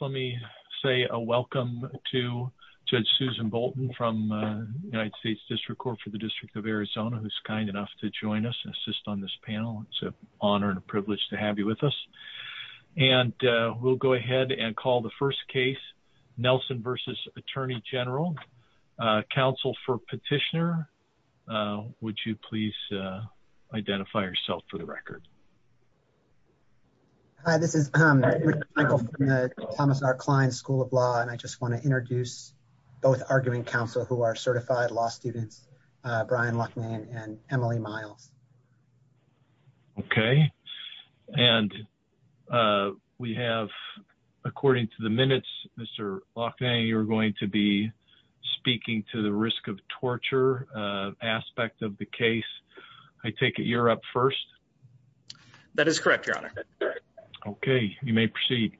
let me say a welcome to Judge Susan Bolton from United States District Court for the District of Arizona, who's kind enough to join us and assist on this panel. It's an honor and a privilege to have you with us. And we'll go ahead and call the first case, Nelson versus Attorney General. Counsel for petitioner, would you please identify yourself for the record? Hi, this is Michael from the Thomas R. Klein School of Law. And I just want to introduce both arguing counsel who are certified law students, Brian Loughnane and Emily Miles. Okay. And we have, according to the minutes, Mr. Loughnane, you're going to be speaking to the risk of torture aspect of the case. I take it you're up first. That is correct, Your Honor. Okay, you may proceed.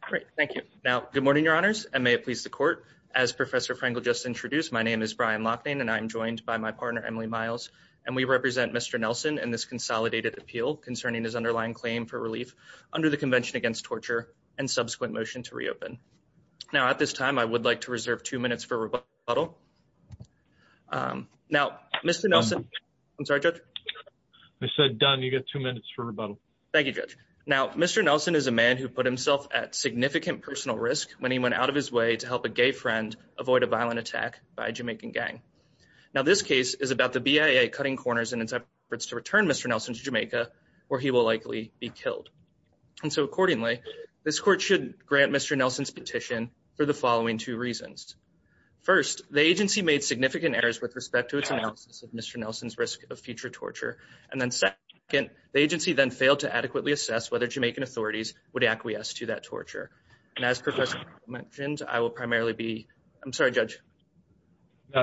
Great, thank you. Now, good morning, Your Honors, and may it please the court. As Professor Frankel just introduced, my name is Brian Loughnane and I'm joined by my partner, Emily Miles, and we represent Mr. Nelson in this consolidated appeal concerning his underlying claim for relief under the Convention Against Torture and subsequent motion to reopen. Now, at this time, I would like to reserve two minutes for rebuttal. Now, Mr. Nelson, I'm sorry, Judge. I said done, you get two minutes for rebuttal. Thank you, Judge. Now, Mr. Nelson is a man who put himself at significant personal risk when he went out of his way to help a gay friend avoid a violent attack by a Jamaican gang. Now, this case is about the BIA cutting corners in its efforts to return Mr. Nelson to Jamaica where he will likely be killed. And so accordingly, this court should grant Mr. Nelson's petition for the following two reasons. First, the agency made significant errors with respect to its analysis of Mr. Nelson's risk of future torture. And then second, the agency then failed to adequately assess whether Jamaican authorities would acquiesce to that torture. And as Professor mentioned, I will primarily be, I'm sorry, Judge.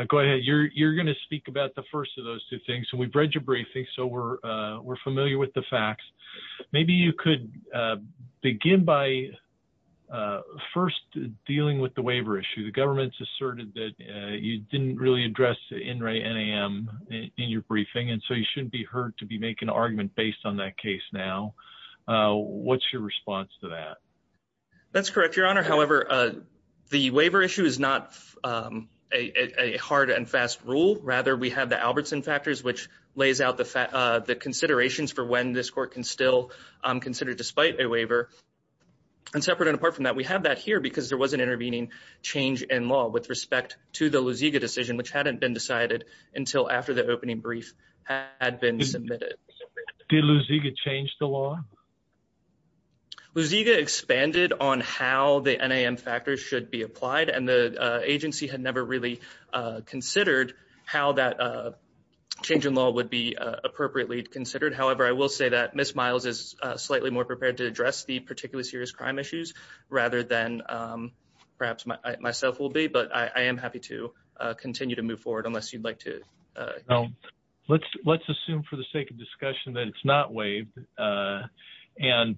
Go ahead. You're gonna speak about the first of those two things. And we've read your briefing, so we're familiar with the facts. Maybe you could begin by first dealing with the waiver issue. The government's asserted that you didn't really address the NAM in your briefing. And so you shouldn't be heard to be making an argument based on that case now. What's your response to that? That's correct, Your Honor. However, the waiver issue is not a hard and fast rule. Rather, we have the Albertson factors, which lays out the considerations for when this court can still consider despite a waiver. And separate and apart from that, we have that here because there was an intervening change in law with respect to the Luziga decision, which hadn't been decided until after the opening brief had been submitted. Did Luziga change the law? Luziga expanded on how the NAM factors should be applied. And the agency had never really considered how that change in law would be appropriately considered. However, I will say that Ms. Miles is slightly more prepared to address the particularly serious crime issues rather than perhaps myself will be, but I am happy to continue to move forward unless you'd like to. No, let's assume for the sake of discussion that it's not waived. And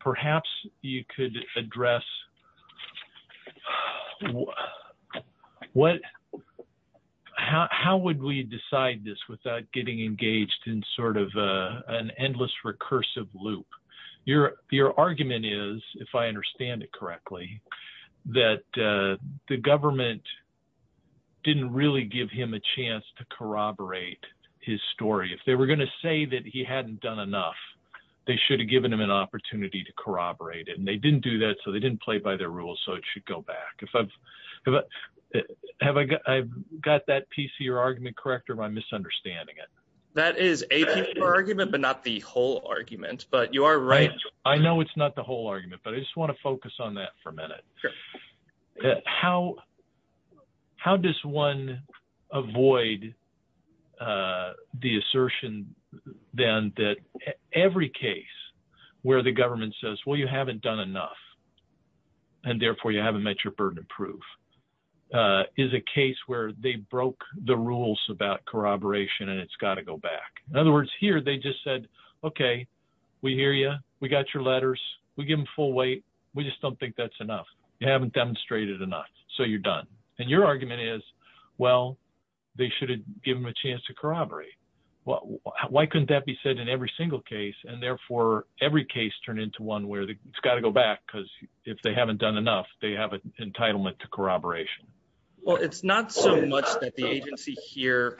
perhaps you could address, how would we decide this without getting engaged in sort of an endless recursive loop? Your argument is, if I understand it correctly, that the government didn't really give him a chance to corroborate his story. If they were gonna say that he hadn't done enough, they should have given him an opportunity to corroborate it. And they didn't do that. So they didn't play by their rules. So it should go back. Have I got that piece of your argument correct or am I misunderstanding it? That is a piece of argument, but not the whole argument, but you are right. I know it's not the whole argument, but I just wanna focus on that for a minute. How does one avoid the assertion then that every case where the government says, well, you haven't done enough and therefore you haven't met your burden of proof is a case where they broke the rules about corroboration and it's gotta go back. In other words, here, they just said, okay, we hear you. We got your letters. We give them full weight. We just don't think that's enough. You haven't demonstrated enough, so you're done. And your argument is, well, they should have given him a chance to corroborate. Why couldn't that be said in every single case? And therefore every case turned into one where it's gotta go back because if they haven't done enough, they have an entitlement to corroboration. Well, it's not so much that the agency here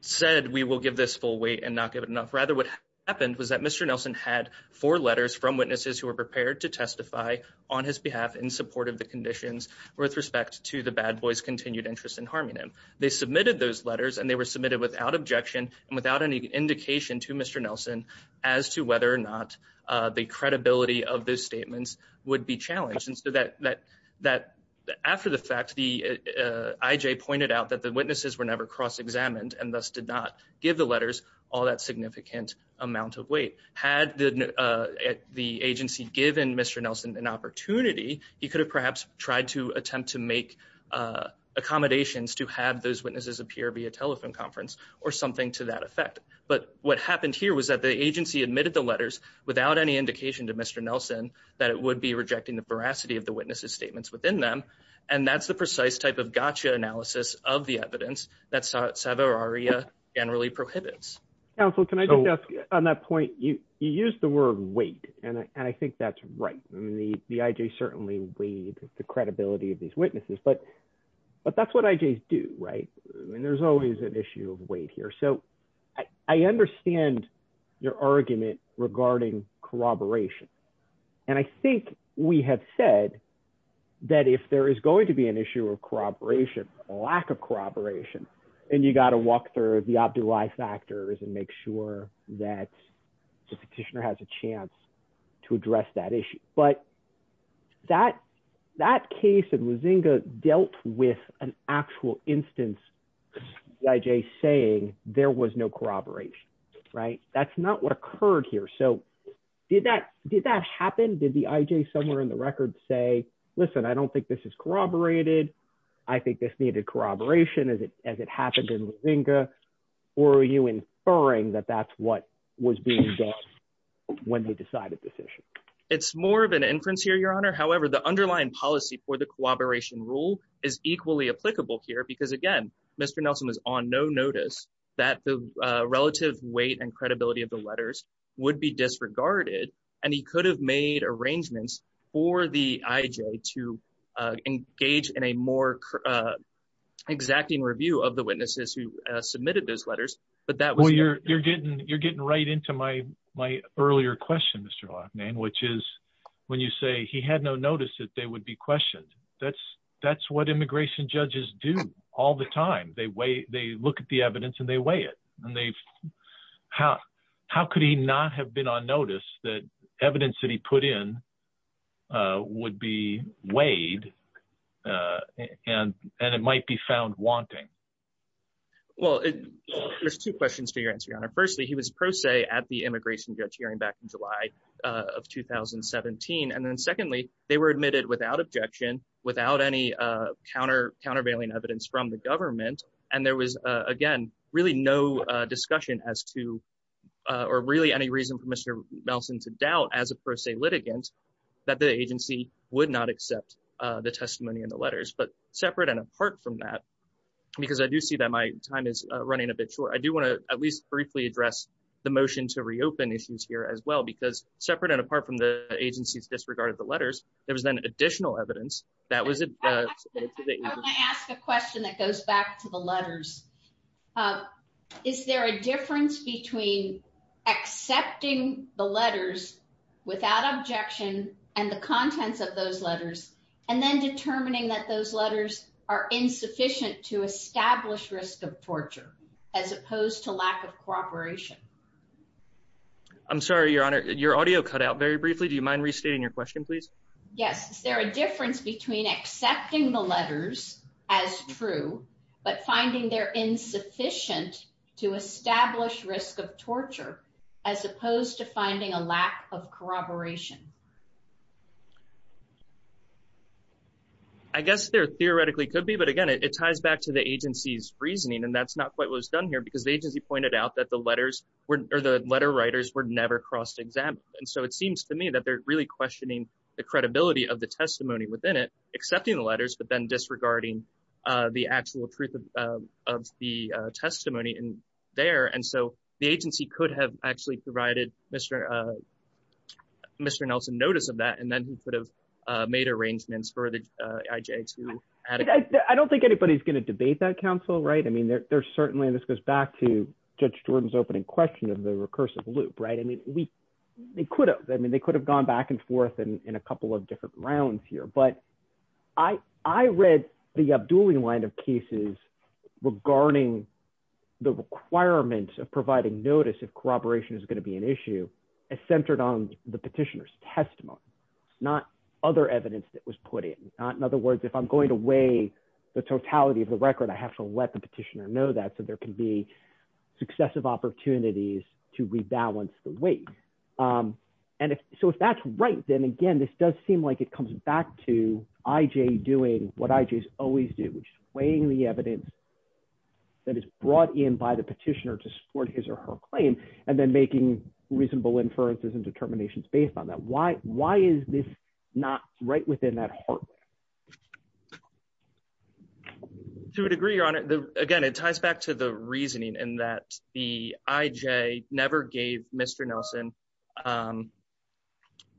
said we will give this full weight and not give it enough. Rather, what happened was that Mr. Nelson had four letters from witnesses who were prepared to testify on his behalf in support of the conditions with respect to the bad boys' continued interest in harming him. They submitted those letters and they were submitted without objection and without any indication to Mr. Nelson as to whether or not the credibility of those statements would be challenged. And so after the fact, the IJ pointed out that the witnesses were never cross-examined and thus did not give the letters all that significant amount of weight. Had the agency given Mr. Nelson an opportunity, he could have perhaps tried to attempt to make accommodations to have those witnesses appear via telephone conference or something to that effect. But what happened here was that the agency admitted the letters without any indication to Mr. Nelson that it would be rejecting the veracity of the witnesses' statements within them. And that's the precise type of gotcha analysis of the evidence that SAVA or ARIA generally prohibits. Counsel, can I just ask you on that point, you used the word weight and I think that's right. I mean, the IJ certainly weighed the credibility of these witnesses, but that's what IJs do, right? I mean, there's always an issue of weight here. So I understand your argument regarding corroboration. And I think we have said that if there is going to be an issue of corroboration, a lack of corroboration, and you got to walk through the OBDU-I factors and make sure that the petitioner has a chance to address that issue. But that case in Luzinga dealt with an actual instance by IJ saying there was no corroboration, right? That's not what occurred here. So did that happen? Did the IJ somewhere in the record say, listen, I don't think this is corroborated. I think this needed corroboration as it happened in Luzinga. Or are you inferring that that's what was being done when they decided this issue? It's more of an inference here, Your Honor. However, the underlying policy for the corroboration rule is equally applicable here because again, Mr. Nelson was on no notice that the relative weight and credibility of the letters would be disregarded. And he could have made arrangements for the IJ to engage in a more exacting review of the witnesses who submitted those letters. But that was- Well, you're getting right into my earlier question, Mr. Lochman, which is when you say he had no notice that they would be questioned. That's what immigration judges do all the time. They weigh, they look at the evidence and they weigh it. And how could he not have been on notice that evidence that he put in would be weighed and it might be found wanting? Well, there's two questions to your answer, Your Honor. Firstly, he was pro se at the immigration judge hearing back in July of 2017. And then secondly, they were admitted without objection, without any countervailing evidence from the government. And there was again, really no discussion as to, or really any reason for Mr. Nelson to doubt as a pro se litigant, that the agency would not accept the testimony in the letters. But separate and apart from that, because I do see that my time is running a bit short. I do wanna at least briefly address the motion to reopen issues here as well, because separate and apart from the agency's disregard of the letters, there was then additional evidence that was- I wanna ask a question that goes back to the letters. Is there a difference between accepting the letters without objection and the contents of those letters, and then determining that those letters are insufficient to establish risk of torture, as opposed to lack of cooperation? I'm sorry, Your Honor, your audio cut out very briefly. Do you mind restating your question, please? Yes, is there a difference between accepting the letters as true, but finding they're insufficient to establish risk of torture, as opposed to finding a lack of corroboration? I guess there theoretically could be, but again, it ties back to the agency's reasoning, and that's not quite what was done here, because the agency pointed out that the letters or the letter writers were never crossed example. And so it seems to me that they're really questioning the credibility of the testimony within it, accepting the letters, but then disregarding the actual truth of the testimony in there. And so the agency could have actually provided Mr. Nelson notice of that, and then he could have made arrangements for the IJ to- I don't think anybody's gonna debate that counsel, right? I mean, there's certainly, and this goes back to Judge Jordan's opening question of the recursive loop, right? I mean, they could have, I mean, they could have gone back and forth in a couple of different rounds here, but I read the Abdulli line of cases regarding the requirement of providing notice if corroboration is gonna be an issue as centered on the petitioner's testimony, not other evidence that was put in. In other words, if I'm going to weigh the totality of the record, I have to let the petitioner know that, so there can be successive opportunities to rebalance the weight. And so if that's right, then again, this does seem like it comes back to IJ doing what IJs always do, which is weighing the evidence that is brought in by the petitioner to support his or her claim, and then making reasonable inferences and determinations based on that. Why is this not right within that heart? To a degree, Your Honor, again, it ties back to the reasoning in that the IJ never gave Mr. Nelson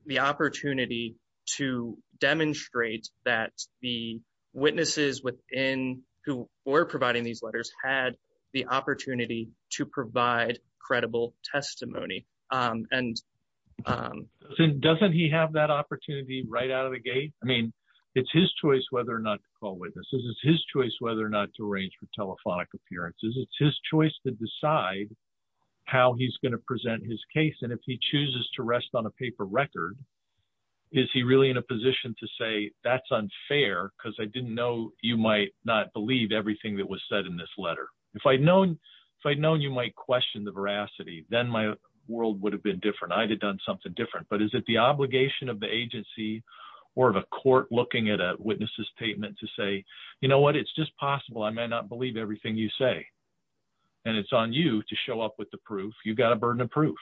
the opportunity to demonstrate that the witnesses within who were providing these letters had the opportunity to provide credible testimony. Doesn't he have that opportunity right out of the gate? I mean, it's his choice whether or not to call witnesses. It's his choice whether or not to arrange for telephonic appearances. It's his choice to decide how he's gonna present his case. And if he chooses to rest on a paper record, is he really in a position to say that's unfair because I didn't know you might not believe everything that was said in this letter. If I'd known you might question the veracity, then my world would have been different. I'd have done something different. But is it the obligation of the agency or of a court looking at a witness's statement to say, you know what, it's just possible I may not believe everything you say. And it's on you to show up with the proof. You've got a burden of proof.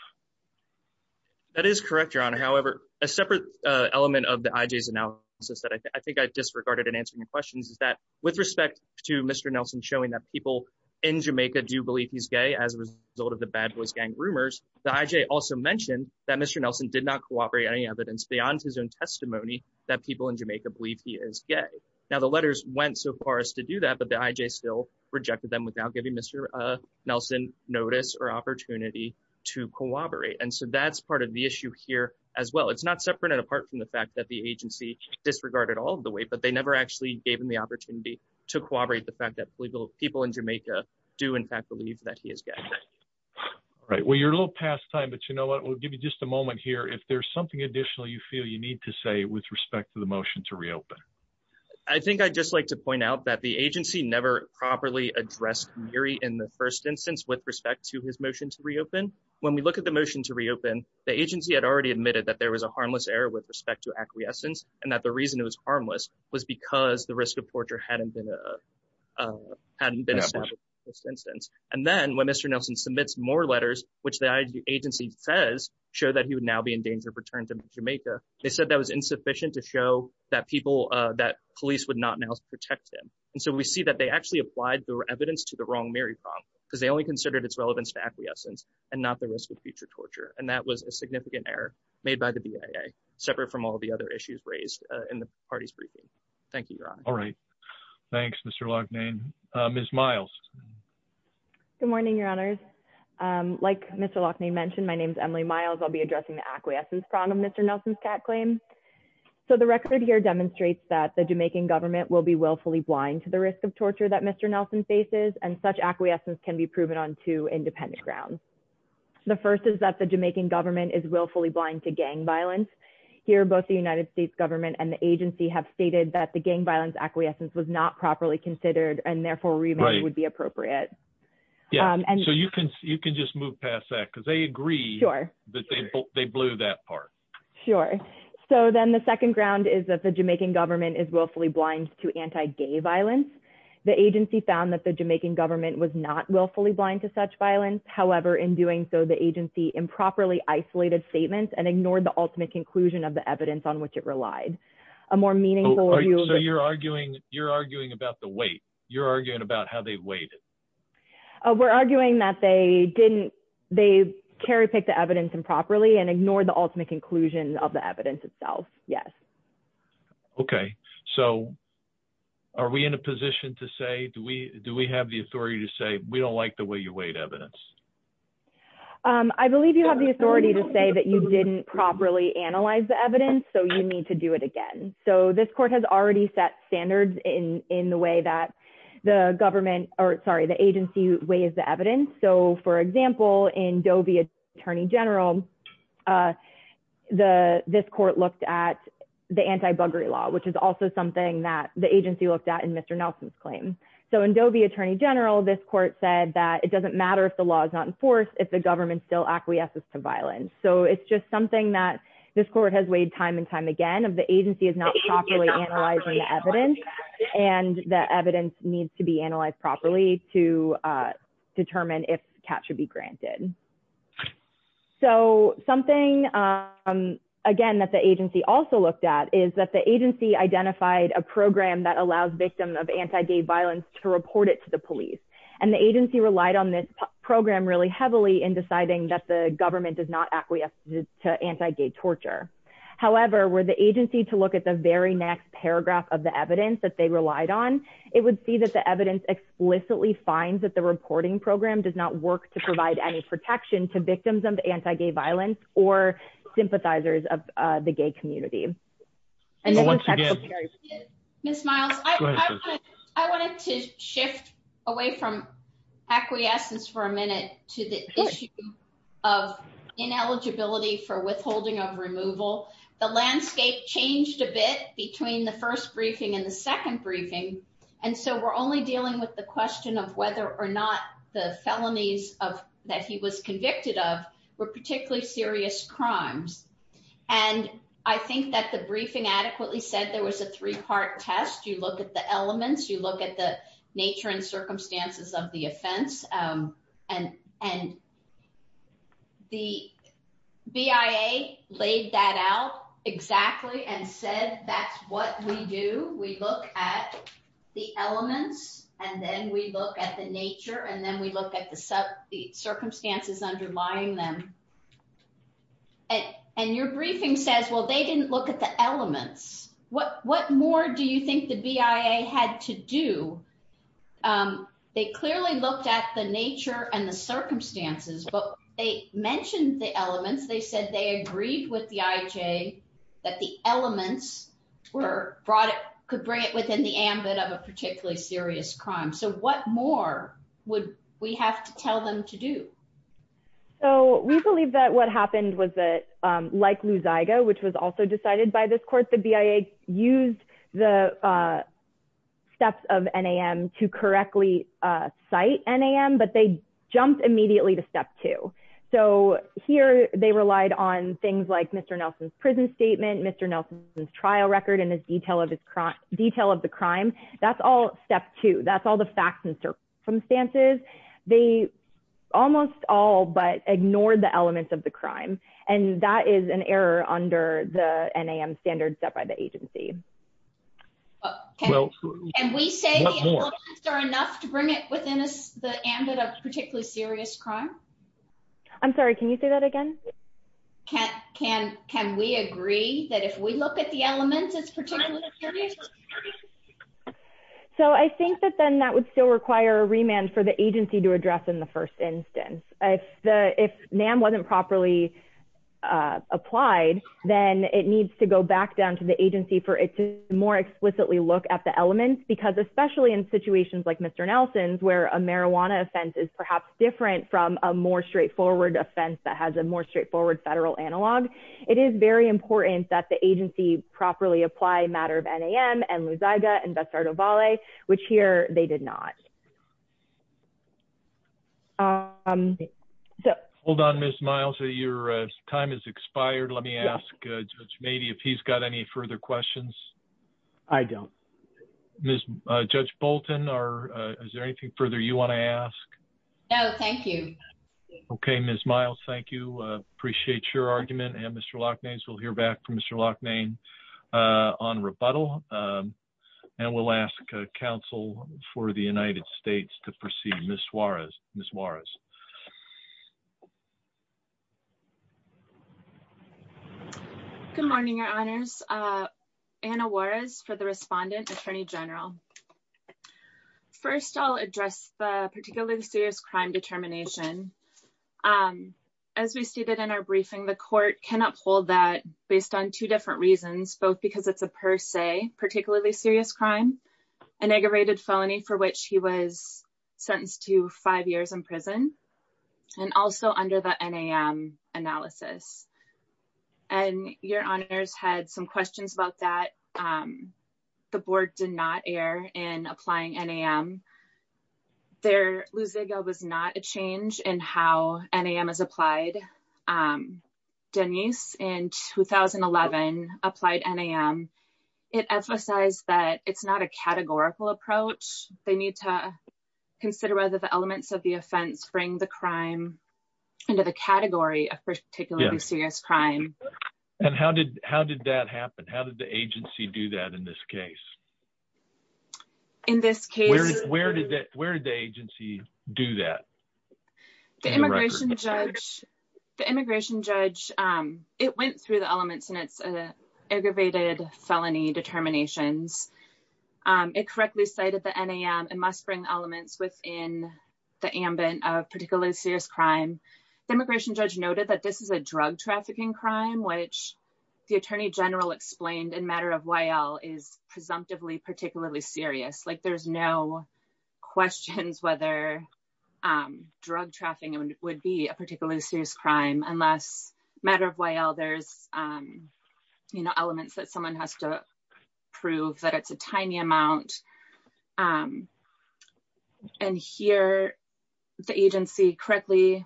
That is correct, Your Honor. However, a separate element of the IJ's analysis that I think I disregarded in answering your questions is that with respect to Mr. Nelson showing that people in Jamaica do believe he's gay as a result of the Bad Boys Gang rumors, the IJ also mentioned that Mr. Nelson did not cooperate any evidence beyond his own testimony that people in Jamaica believe he is gay. Now, the letters went so far as to do that, but the IJ still rejected them without giving Mr. Nelson notice or opportunity to cooperate. And so that's part of the issue here as well. It's not separate and apart from the fact that the agency disregarded all of the weight, but they never actually gave him the opportunity to cooperate the fact that people in Jamaica do in fact believe that he is gay. All right, well, you're a little past time, but you know what, we'll give you just a moment here. If there's something additional you feel you need to say with respect to the motion to reopen. I think I'd just like to point out that the agency never properly addressed Miri in the first instance with respect to his motion to reopen. When we look at the motion to reopen, the agency had already admitted that there was a harmless error with respect to acquiescence and that the reason it was harmless was because the risk of torture hadn't been established in the first instance. And then when Mr. Nelson submits more letters, which the agency says show that he would now be in danger of return to Jamaica, they said that was insufficient to show that police would not now protect him. And so we see that they actually applied the evidence to the wrong Miri prong because they only considered its relevance to acquiescence and not the risk of future torture. And that was a significant error made by the BIA separate from all the other issues raised in the party's briefing. Thank you, Your Honor. All right. Thanks, Mr. Loughnane. Ms. Miles. Good morning, Your Honors. Like Mr. Loughnane mentioned, my name is Emily Miles. I'll be addressing the acquiescence prong of Mr. Nelson's cat claim. So the record here demonstrates that the Jamaican government will be willfully blind to the risk of torture that Mr. Nelson faces and such acquiescence can be proven on two independent grounds. The first is that the Jamaican government is willfully blind to gang violence. Here, both the United States government and the agency have stated that the gang violence acquiescence was not properly considered and therefore remand would be appropriate. Yeah, so you can just move past that because they agree that they blew that part. Sure. So then the second ground is that the Jamaican government is willfully blind to anti-gay violence. The agency found that the Jamaican government was not willfully blind to such violence. However, in doing so, the agency improperly isolated statements and ignored the ultimate conclusion of the evidence on which it relied. A more meaningful- So you're arguing about the weight. You're arguing about how they weighed it. We're arguing that they didn't, they carry picked the evidence improperly and ignored the ultimate conclusion of the evidence itself. Yes. Okay. So are we in a position to say, do we have the authority to say, we don't like the way you weighed evidence? I believe you have the authority to say that you didn't properly analyze the evidence, so you need to do it again. So this court has already set standards in the way that the government, or sorry, the agency weighs the evidence. So for example, in Dovey Attorney General, this court looked at the anti-buggery law, which is also something that the agency looked at in Mr. Nelson's claim. So in Dovey Attorney General, this court said that it doesn't matter if the law is not enforced, if the government still acquiesces to violence. So it's just something that this court has weighed time and time again, if the agency is not properly analyzing the evidence and the evidence needs to be analyzed properly to determine if CAP should be granted. So something, again, that the agency also looked at is that the agency identified a program that allows victims of anti-gay violence to report it to the police. And the agency relied on this program really heavily in deciding that the government does not acquiesce to anti-gay torture. However, were the agency to look at the very next paragraph of the evidence that they relied on, it would see that the evidence explicitly finds that the reporting program does not work to provide any protection to victims of anti-gay violence or sympathizers of the gay community. Ms. Miles, I wanted to shift away from acquiescence for a minute to the issue of ineligibility for withholding of removal. The landscape changed a bit between the first briefing and the second briefing. And so we're only dealing with the question of whether or not the felonies that he was convicted of were particularly serious crimes. And I think that the briefing adequately said there was a three-part test. You look at the elements, you look at the nature and circumstances of the offense. And the BIA laid that out exactly and said, that's what we do. We look at the elements and then we look at the nature and then we look at the circumstances underlying them. And your briefing says, well, they didn't look at the elements. What more do you think the BIA had to do? They clearly looked at the nature and the circumstances, but they mentioned the elements. They said they agreed with the IJ that the elements could bring it within the ambit of a particularly serious crime. So what more would we have to tell them to do? So we believe that what happened was that, like Lou Zyga, which was also decided by this court, the BIA used the steps of NAM to correctly cite NAM, but they jumped immediately to step two. So here they relied on things like Mr. Nelson's prison statement, Mr. Nelson's trial record and his detail of the crime. That's all step two. That's all the facts and circumstances. They almost all, but ignored the elements of the crime. And that is an error under the NAM standards set by the agency. Okay, and we say the elements are enough to bring it within the ambit of particularly serious crime? I'm sorry, can you say that again? Can we agree that if we look at the elements as particularly serious? So I think that then that would still require a remand for the agency to address in the first instance. If NAM wasn't properly applied, then it needs to go back down to the agency for it to more explicitly look at the elements, because especially in situations like Mr. Nelson's, where a marijuana offense is perhaps different from a more straightforward offense that has a more straightforward federal analog. It is very important that the agency properly apply matter of NAM and Luzaga and Bessardo Valle, which here they did not. Hold on, Ms. Miles, your time has expired. Let me ask Judge Mabee if he's got any further questions. I don't. Judge Bolton, is there anything further you wanna ask? No, thank you. Okay, Ms. Miles, thank you. Appreciate your argument. And Mr. Lachnane, we'll hear back from Mr. Lachnane on rebuttal, and we'll ask counsel for the United States to proceed, Ms. Juarez, Ms. Juarez. Good morning, your honors. Anna Juarez for the respondent, attorney general. First, I'll address the particularly serious crime determination. As we stated in our briefing, the court can uphold that based on two different reasons, both because it's a per se, particularly serious crime, an aggravated felony for which he was sentenced to five years in prison, and also under the NAM analysis. And your honors had some questions about that. The board did not err in applying NAM. Their lusega was not a change in how NAM is applied. Denise in 2011 applied NAM. It emphasized that it's not a categorical approach. They need to consider whether the elements of the offense bring the crime into the category of particularly serious crime. And how did that happen? How did the agency do that in this case? In this case- Where did the agency do that? The immigration judge, it went through the elements and it's an aggravated felony determinations. It correctly cited the NAM and must bring elements within the ambit of particularly serious crime. The immigration judge noted that this is a drug trafficking crime, which the attorney general explained in matter of YL is presumptively particularly serious. Like there's no questions whether drug trafficking would be a particularly serious crime unless matter of YL there's elements that someone has to prove that it's a tiny amount. And here the agency correctly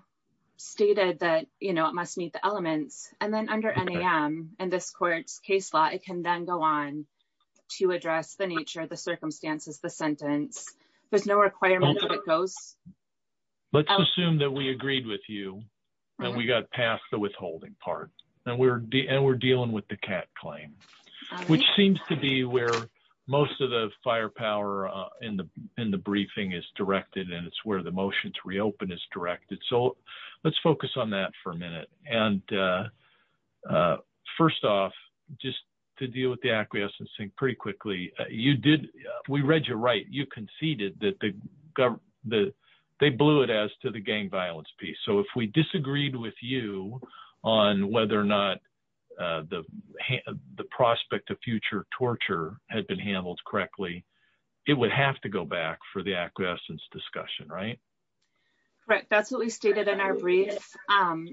stated that it must meet the elements. And then under NAM and this court's case law, it can then go on to address the nature of the circumstances, the sentence. There's no requirement that it goes- Let's assume that we agreed with you and we got past the withholding part and we're dealing with the cat claim, which seems to be where most of the firepower in the briefing is directed and it's where the motion to reopen is directed. So let's focus on that for a minute. And first off, just to deal with the acquiescence and pretty quickly, you did, we read your right. You conceded that they blew it as to the gang violence piece. So if we disagreed with you on whether or not the prospect of future torture had been handled correctly, it would have to go back for the acquiescence discussion, right? Correct, that's what we stated in our brief.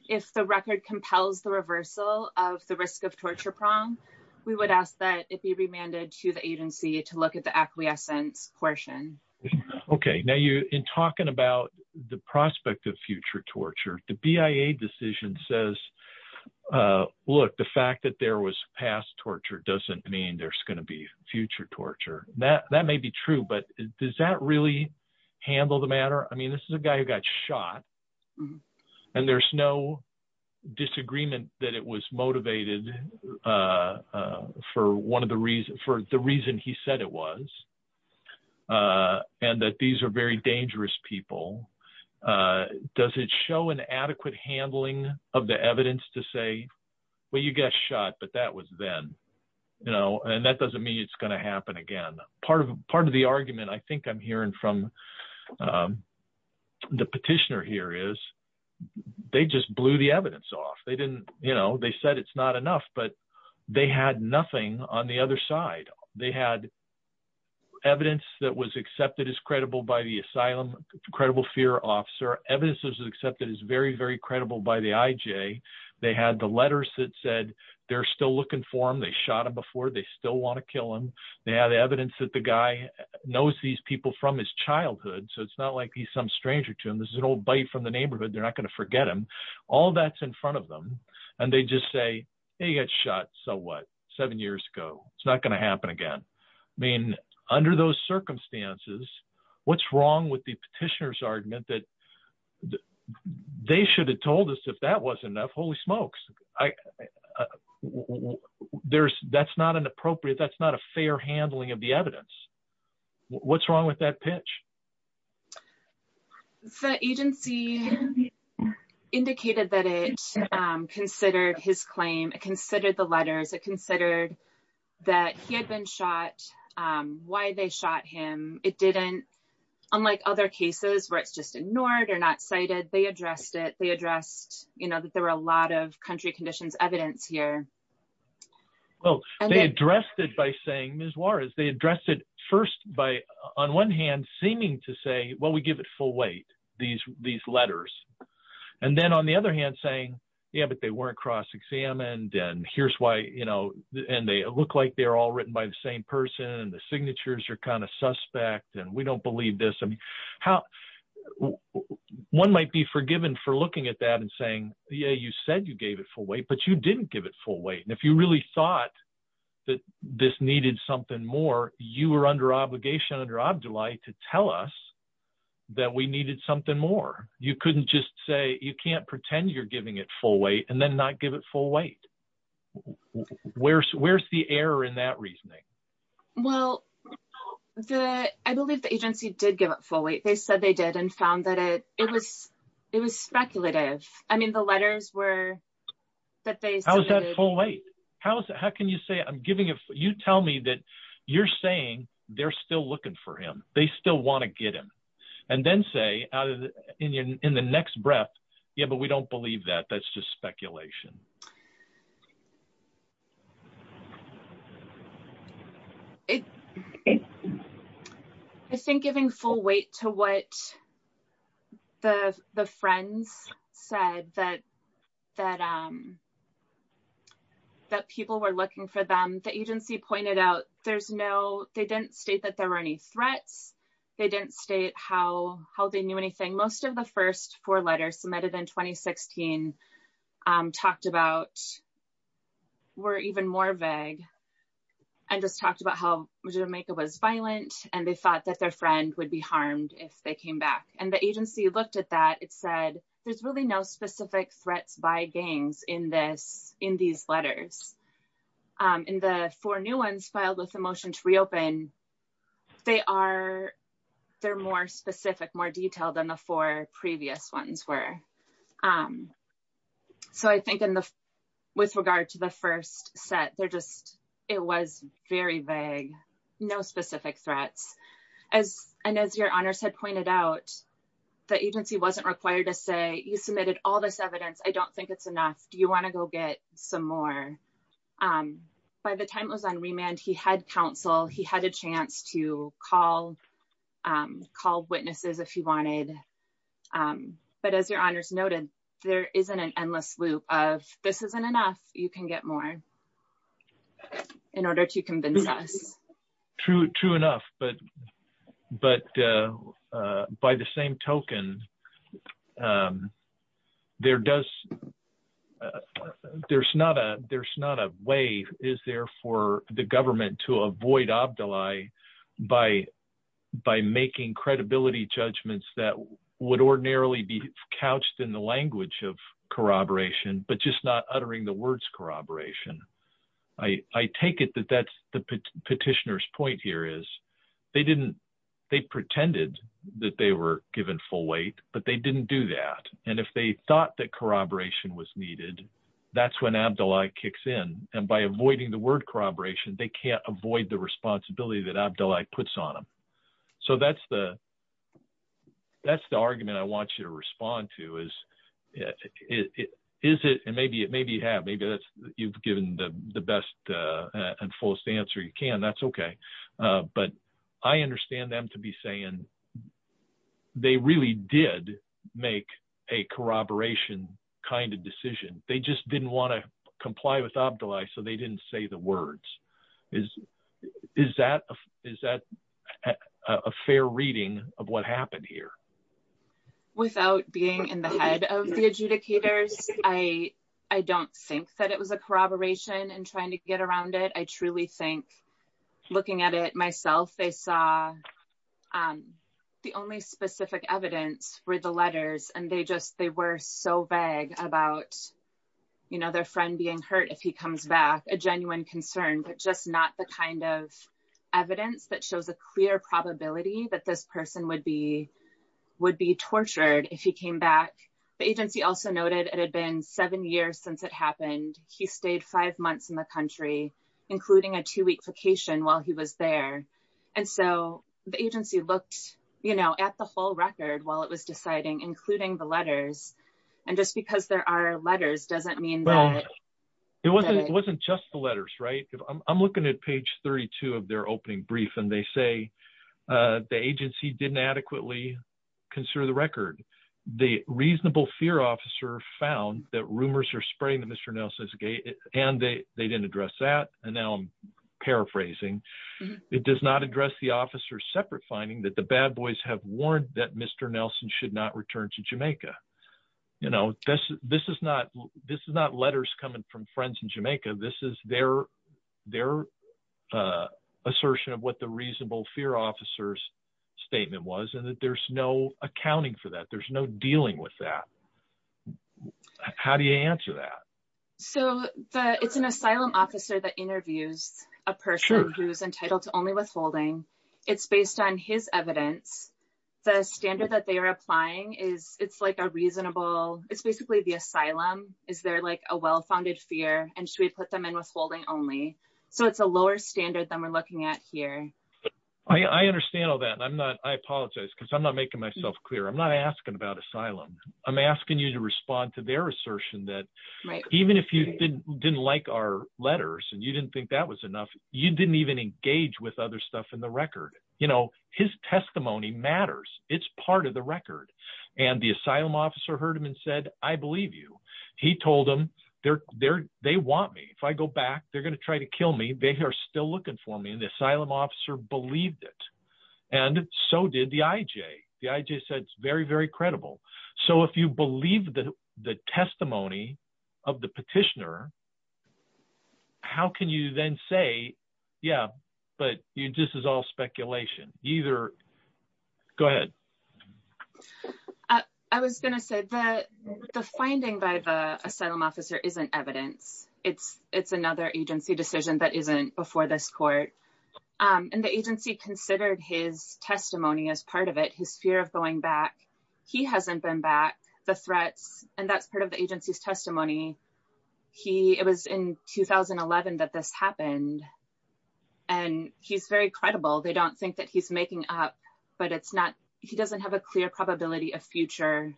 If the record compels the reversal of the risk of torture prong, we would ask that it be remanded to the agency to look at the acquiescence portion. Okay, now you, in talking about the prospect of future torture, the BIA decision says, look, the fact that there was past torture doesn't mean there's going to be future torture. That may be true, but does that really handle the matter? I mean, this is a guy who got shot and there's no disagreement that it was motivated for one of the reasons, for the reason he said it was and that these are very dangerous people. Does it show an adequate handling of the evidence to say, well, you got shot, but that was then, and that doesn't mean it's going to happen again. Part of the argument I think I'm hearing from the petitioner here is, they just blew the evidence off. They didn't, you know, they said it's not enough, but they had nothing on the other side. They had evidence that was accepted as credible by the asylum, credible fear officer. Evidence that was accepted as very, very credible by the IJ. They had the letters that said, they're still looking for him. They shot him before, they still want to kill him. They had evidence that the guy knows these people from his childhood. So it's not like he's some stranger to him. This is an old bite from the neighborhood. They're not going to forget him. All that's in front of them. And they just say, hey, you got shot, so what? Seven years ago, it's not going to happen again. I mean, under those circumstances, what's wrong with the petitioner's argument that they should have told us if that wasn't enough, holy smokes, that's not an appropriate, that's not a fair handling of the evidence. What's wrong with that pitch? The agency indicated that it considered his claim. It considered the letters. It considered that he had been shot, why they shot him. It didn't, unlike other cases where it's just ignored or not cited, they addressed it. They addressed that there were a lot of country conditions evidence here. Well, they addressed it by saying, Ms. Juarez, they addressed it first by, on one hand, seeming to say, well, we give it full weight, these letters. And then on the other hand saying, yeah, but they weren't cross-examined. And here's why, you know, and they look like they're all written by the same person and the signatures are kind of suspect and we don't believe this. I mean, how, one might be forgiven for looking at that and saying, yeah, you said you gave it full weight, but you didn't give it full weight. And if you really thought that this needed something more, you were under obligation under OBDULAI to tell us that we needed something more. You couldn't just say, you can't pretend you're giving it full weight and then not give it full weight. Where's the error in that reasoning? Well, I believe the agency did give it full weight. They said they did and found that it was speculative. I mean, the letters were that they submitted- How can you say, I'm giving it, you tell me that you're saying they're still looking for him. They still want to get him. And then say in the next breath, yeah, but we don't believe that, that's just speculation. I think giving full weight to what the friends said that people were looking for them, the agency pointed out there's no, they didn't state that there were any threats. They didn't state how they knew anything. Most of the first four letters submitted in 2016 talked about were even more vague and just talked about how Jamaica was violent. And they thought that their friend would be harmed if they came back. And the agency looked at that. It said, there's really no specific threats by gangs in these letters. In the four new ones filed with the motion to reopen, they're more specific, more detailed than the four previous ones were. So I think with regard to the first set, they're just, it was very vague, no specific threats. And as your honors had pointed out, the agency wasn't required to say, you submitted all this evidence. I don't think it's enough. Do you wanna go get some more? By the time it was on remand, he had counsel. He had a chance to call witnesses if he wanted. But as your honors noted, there isn't an endless loop of this isn't enough, you can get more in order to convince us. True enough, but by the same token, there's not a way is there for the government to avoid Abdallah by making credibility judgments that would ordinarily be couched in the language of corroboration, but just not uttering the words corroboration. I take it that that's the petitioner's point here is they pretended that they were given full weight, but they didn't do that. And if they thought that corroboration was needed, that's when Abdallah kicks in. And by avoiding the word corroboration, they can't avoid the responsibility that Abdallah puts on them. So that's the argument I want you to respond to is is it, and maybe you have, maybe you've given the best and fullest answer you can, that's okay. But I understand them to be saying they really did make a corroboration kind of decision. They just didn't want to comply with Abdallah so they didn't say the words. Is that a fair reading of what happened here? Without being in the head of the adjudicators, I don't think that it was a corroboration and trying to get around it. I truly think looking at it myself, they saw the only specific evidence were the letters and they were so vague about their friend being hurt if he comes back, a genuine concern, but just not the kind of evidence that shows a clear probability that this person would be tortured if he came back. The agency also noted it had been seven years since it happened. He stayed five months in the country, including a two-week vacation while he was there. And so the agency looked at the whole record while it was deciding, including the letters. And just because there are letters doesn't mean that- It wasn't just the letters, right? I'm looking at page 32 of their opening brief and they say the agency didn't adequately consider the record. The reasonable fear officer found that rumors are spreading that Mr. Nelson is gay and they didn't address that. And now I'm paraphrasing. It does not address the officer's separate finding that the bad boys have warned that Mr. Nelson should not return to Jamaica. This is not letters coming from friends in Jamaica. This is their assertion of what the reasonable fear officer's statement was and that there's no accounting for that. There's no dealing with that. How do you answer that? So it's an asylum officer that interviews a person who's entitled to only withholding. It's based on his evidence. The standard that they are applying is, it's like a reasonable, it's basically the asylum. Is there like a well-founded fear and should we put them in withholding only? So it's a lower standard than we're looking at here. I understand all that and I apologize because I'm not making myself clear. I'm not asking about asylum. I'm asking you to respond to their assertion that even if you didn't like our letters and you didn't think that was enough, you didn't even engage with other stuff in the record. His testimony matters. It's part of the record. And the asylum officer heard him and said, I believe you. He told them, they want me. If I go back, they're gonna try to kill me. They are still looking for me. And the asylum officer believed it. And so did the IJ. The IJ said, it's very, very credible. So if you believe the testimony of the petitioner, how can you then say, yeah, but this is all speculation. Either, go ahead. I was gonna say that the finding by the asylum officer isn't evidence. It's another agency decision that isn't before this court. And the agency considered his testimony as part of it, his fear of going back. He hasn't been back, the threats. And that's part of the agency's testimony. He, it was in 2011 that this happened and he's very credible. They don't think that he's making up, but he doesn't have a clear probability of future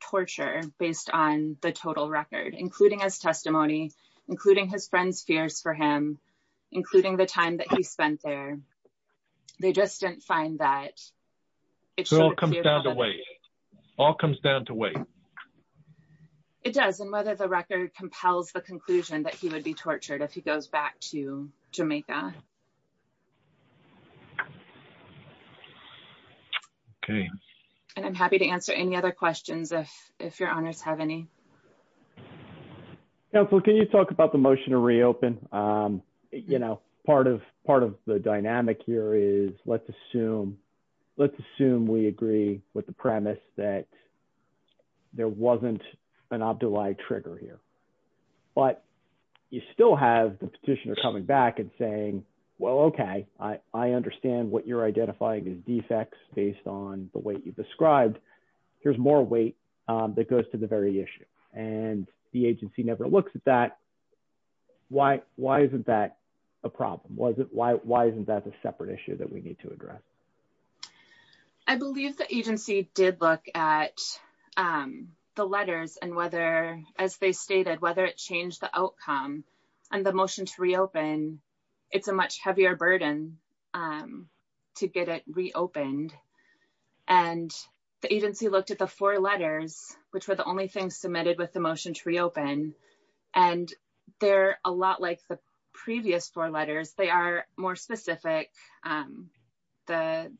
torture based on the total record, including his testimony, including his friends' fears for him, including the time that he spent there. They just didn't find that. It all comes down to weight. All comes down to weight. It does. And whether the record compels the conclusion that he would be tortured if he goes back to Jamaica. Okay. And I'm happy to answer any other questions if your honors have any. Counselor, can you talk about the motion to reopen? You know, part of the dynamic here is let's assume, let's assume we agree with the premise that there wasn't an abdullahi trigger here. But you still have the petitioner coming back and saying, well, okay, I understand what you're identifying as defects based on the weight you've described. Here's more weight that goes to the very issue. And the agency never looks at that. Why isn't that a problem? Why isn't that a separate issue that we need to address? I believe the agency did look at the letters and whether, as they stated, whether it changed the outcome and the motion to reopen, it's a much heavier burden to get it reopened. And the agency looked at the four letters, which were the only things submitted with the motion to reopen. And they're a lot like the previous four letters. They are more specific. The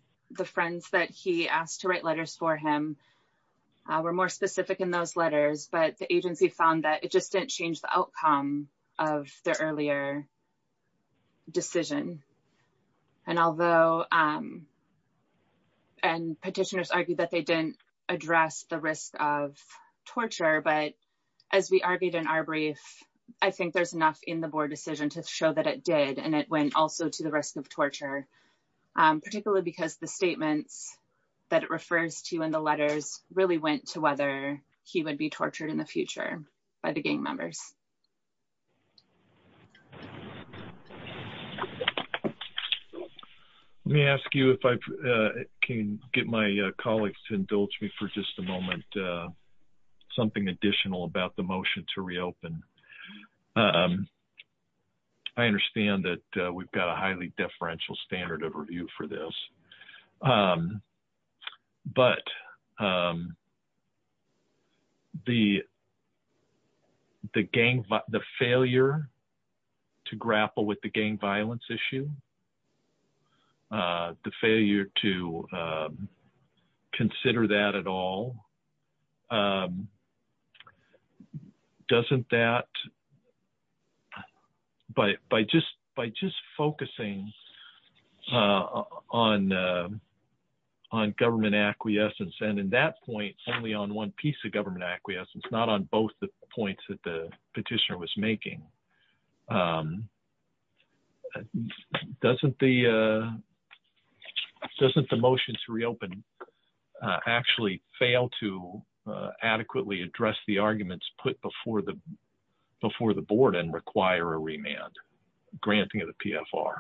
friends that he asked to write letters for him were more specific in those letters, but the agency found that it just didn't change the outcome of their earlier decision. And although, and petitioners argued that they didn't address the risk of torture, but as we argued in our brief, I think there's enough in the board decision to show that it did. And it went also to the risk of torture, particularly because the statements that it refers to in the letters really went to whether he would be tortured in the future by the gang members. Thanks. Let me ask you if I can get my colleagues to indulge me for just a moment, something additional about the motion to reopen. I understand that we've got a highly deferential standard of review for this, but the gang members, the failure to grapple with the gang violence issue, the failure to consider that at all, doesn't that, by just focusing on government acquiescence and in that point only on one piece of government acquiescence, not on both the points that the petitioner was making, doesn't the motion to reopen actually fail to adequately address the arguments put before the board and require a remand, granting of the PFR?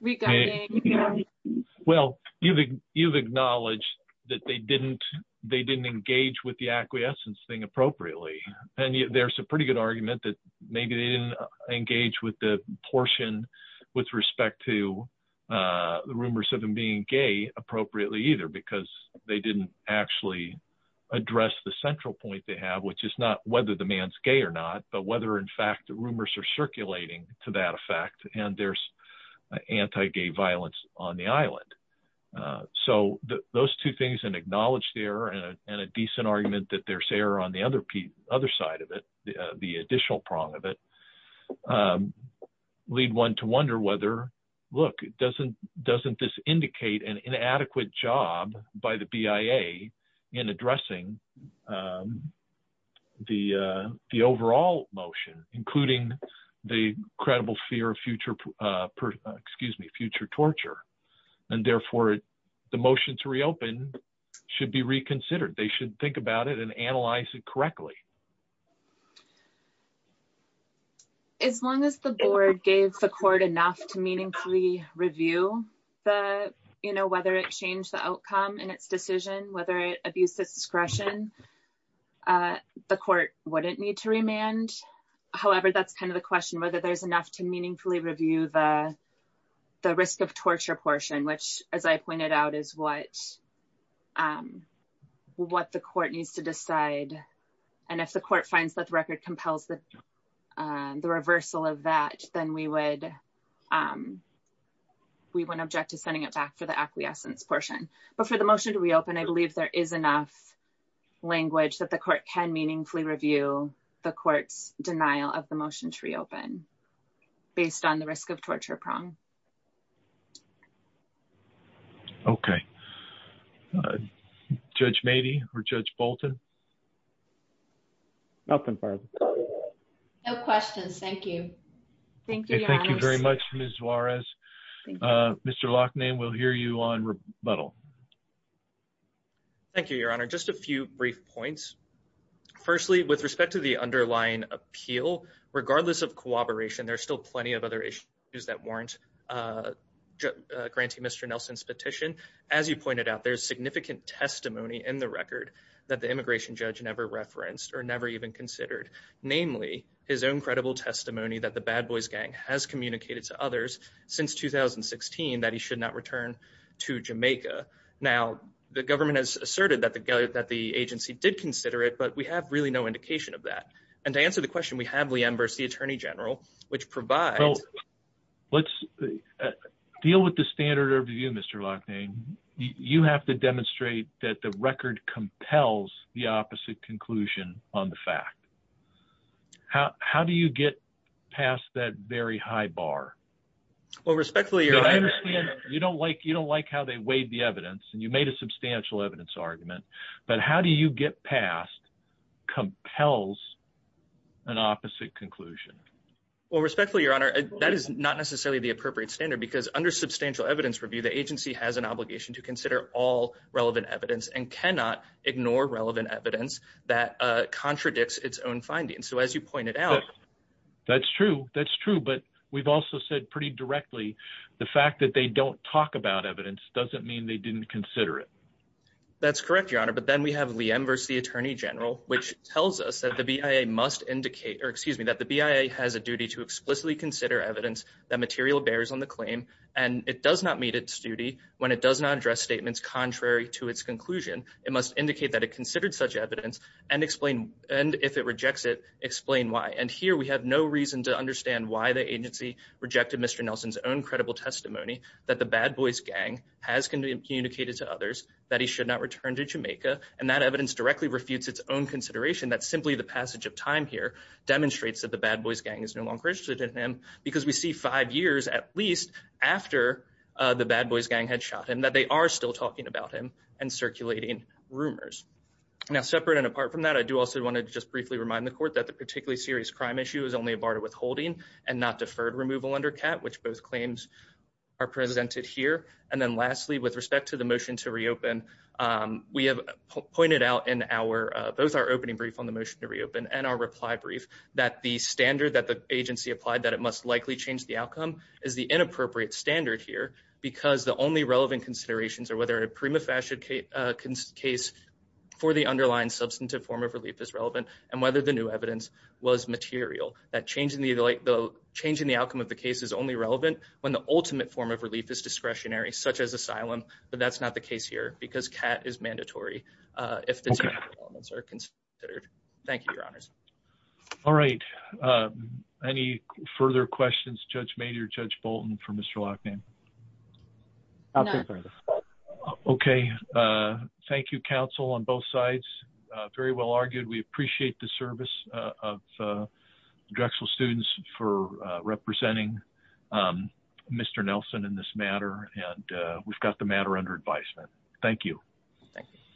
We got gang members. Well, you've acknowledged that they didn't engage with the acquiescence thing appropriately, and yet there's a pretty good argument that maybe they didn't engage with the portion with respect to the rumors of them being gay appropriately either, because they didn't actually address the central point they have, which is not whether the man's gay or not, but whether in fact rumors are circulating to that effect and there's anti-gay violence on the island. So those two things, an acknowledged error and a decent argument that there's error on the other side of it, the additional prong of it, lead one to wonder whether, look, doesn't this indicate an inadequate job by the BIA in addressing the overall motion, including the credible fear of future, excuse me, future torture, and therefore the motion to reopen should be reconsidered. They should think about it and analyze it correctly. As long as the board gave the court enough to meaningfully review the, whether it changed the outcome in its decision, whether it abused its discretion, the court wouldn't need to remand. However, that's kind of the question, whether there's enough to meaningfully review the risk of torture portion, which as I pointed out is what the court needs to decide. And if the court finds that the record compels the reversal of that, then we would object to sending it back for the acquiescence portion. But for the motion to reopen, I believe there is enough language that the court can meaningfully review the court's denial of the motion to reopen based on the risk of torture prong. Okay. Judge Mady or Judge Bolton? Nothing further. No questions, thank you. Thank you, Your Honor. Thank you very much, Ms. Juarez. Mr. Loughnane, we'll hear you on rebuttal. Thank you, Your Honor. Just a few brief points. Firstly, with respect to the underlying appeal, regardless of cooperation, there's still plenty of other issues that warrant granting Mr. Nelson's petition. As you pointed out, there's significant testimony in the record that the immigration judge never referenced or never even considered. Namely, his own credible testimony that the bad boys gang has communicated to others since 2016 that he should not return to Jamaica. Now, the government has asserted that the agency did consider it, but we have really no indication of that. And to answer the question, we have Liam Burse, the Attorney General, which provides- Let's deal with the standard of view, Mr. Loughnane. You have to demonstrate that the record compels the opposite conclusion on the fact. How do you get past that very high bar? Well, respectfully- I understand you don't like how they weighed the evidence and you made a substantial evidence argument, but how do you get past compels an opposite conclusion? Well, respectfully, Your Honor, that is not necessarily the appropriate standard because under substantial evidence review, the agency has an obligation to consider all relevant evidence and cannot ignore relevant evidence that contradicts its own findings. So as you pointed out- That's true, that's true. But we've also said pretty directly, the fact that they don't talk about evidence doesn't mean they didn't consider it. That's correct, Your Honor. But then we have Liam Burse, the Attorney General, which tells us that the BIA must indicate, or excuse me, that the BIA has a duty to explicitly consider evidence that material bears on the claim and it does not meet its duty when it does not address statements contrary to its conclusion. It must indicate that it considered such evidence and if it rejects it, explain why. And here we have no reason to understand why the agency rejected Mr. Nelson's own credible testimony that the Bad Boys gang has communicated to others that he should not return to Jamaica and that evidence directly refutes its own consideration. That's simply the passage of time here demonstrates that the Bad Boys gang is no longer interested in him because we see five years, at least, after the Bad Boys gang had shot him, that they are still talking about him and circulating rumors. Now, separate and apart from that, I do also want to just briefly remind the court that the particularly serious crime issue is only a bar to withholding and not deferred removal under cap, which both claims are presented here. And then lastly, with respect to the motion to reopen, we have pointed out in both our opening brief on the motion to reopen and our reply brief that the standard that the agency applied that it must likely change the outcome is the inappropriate standard here because the only relevant considerations are whether a prima facie case for the underlying substantive form of relief is relevant and whether the new evidence was material. That changing the outcome of the case is only relevant when the ultimate form of relief is discretionary, such as asylum, but that's not the case here because cap is mandatory if the two elements are considered. Thank you, your honors. All right. Any further questions, Judge Maynard, Judge Bolton for Mr. Lochnam? No. Okay. Thank you, counsel on both sides. Very well argued. We appreciate the service of Drexel students for representing Mr. Nelson in this matter. And we've got the matter under advisement. Thank you. Thank you.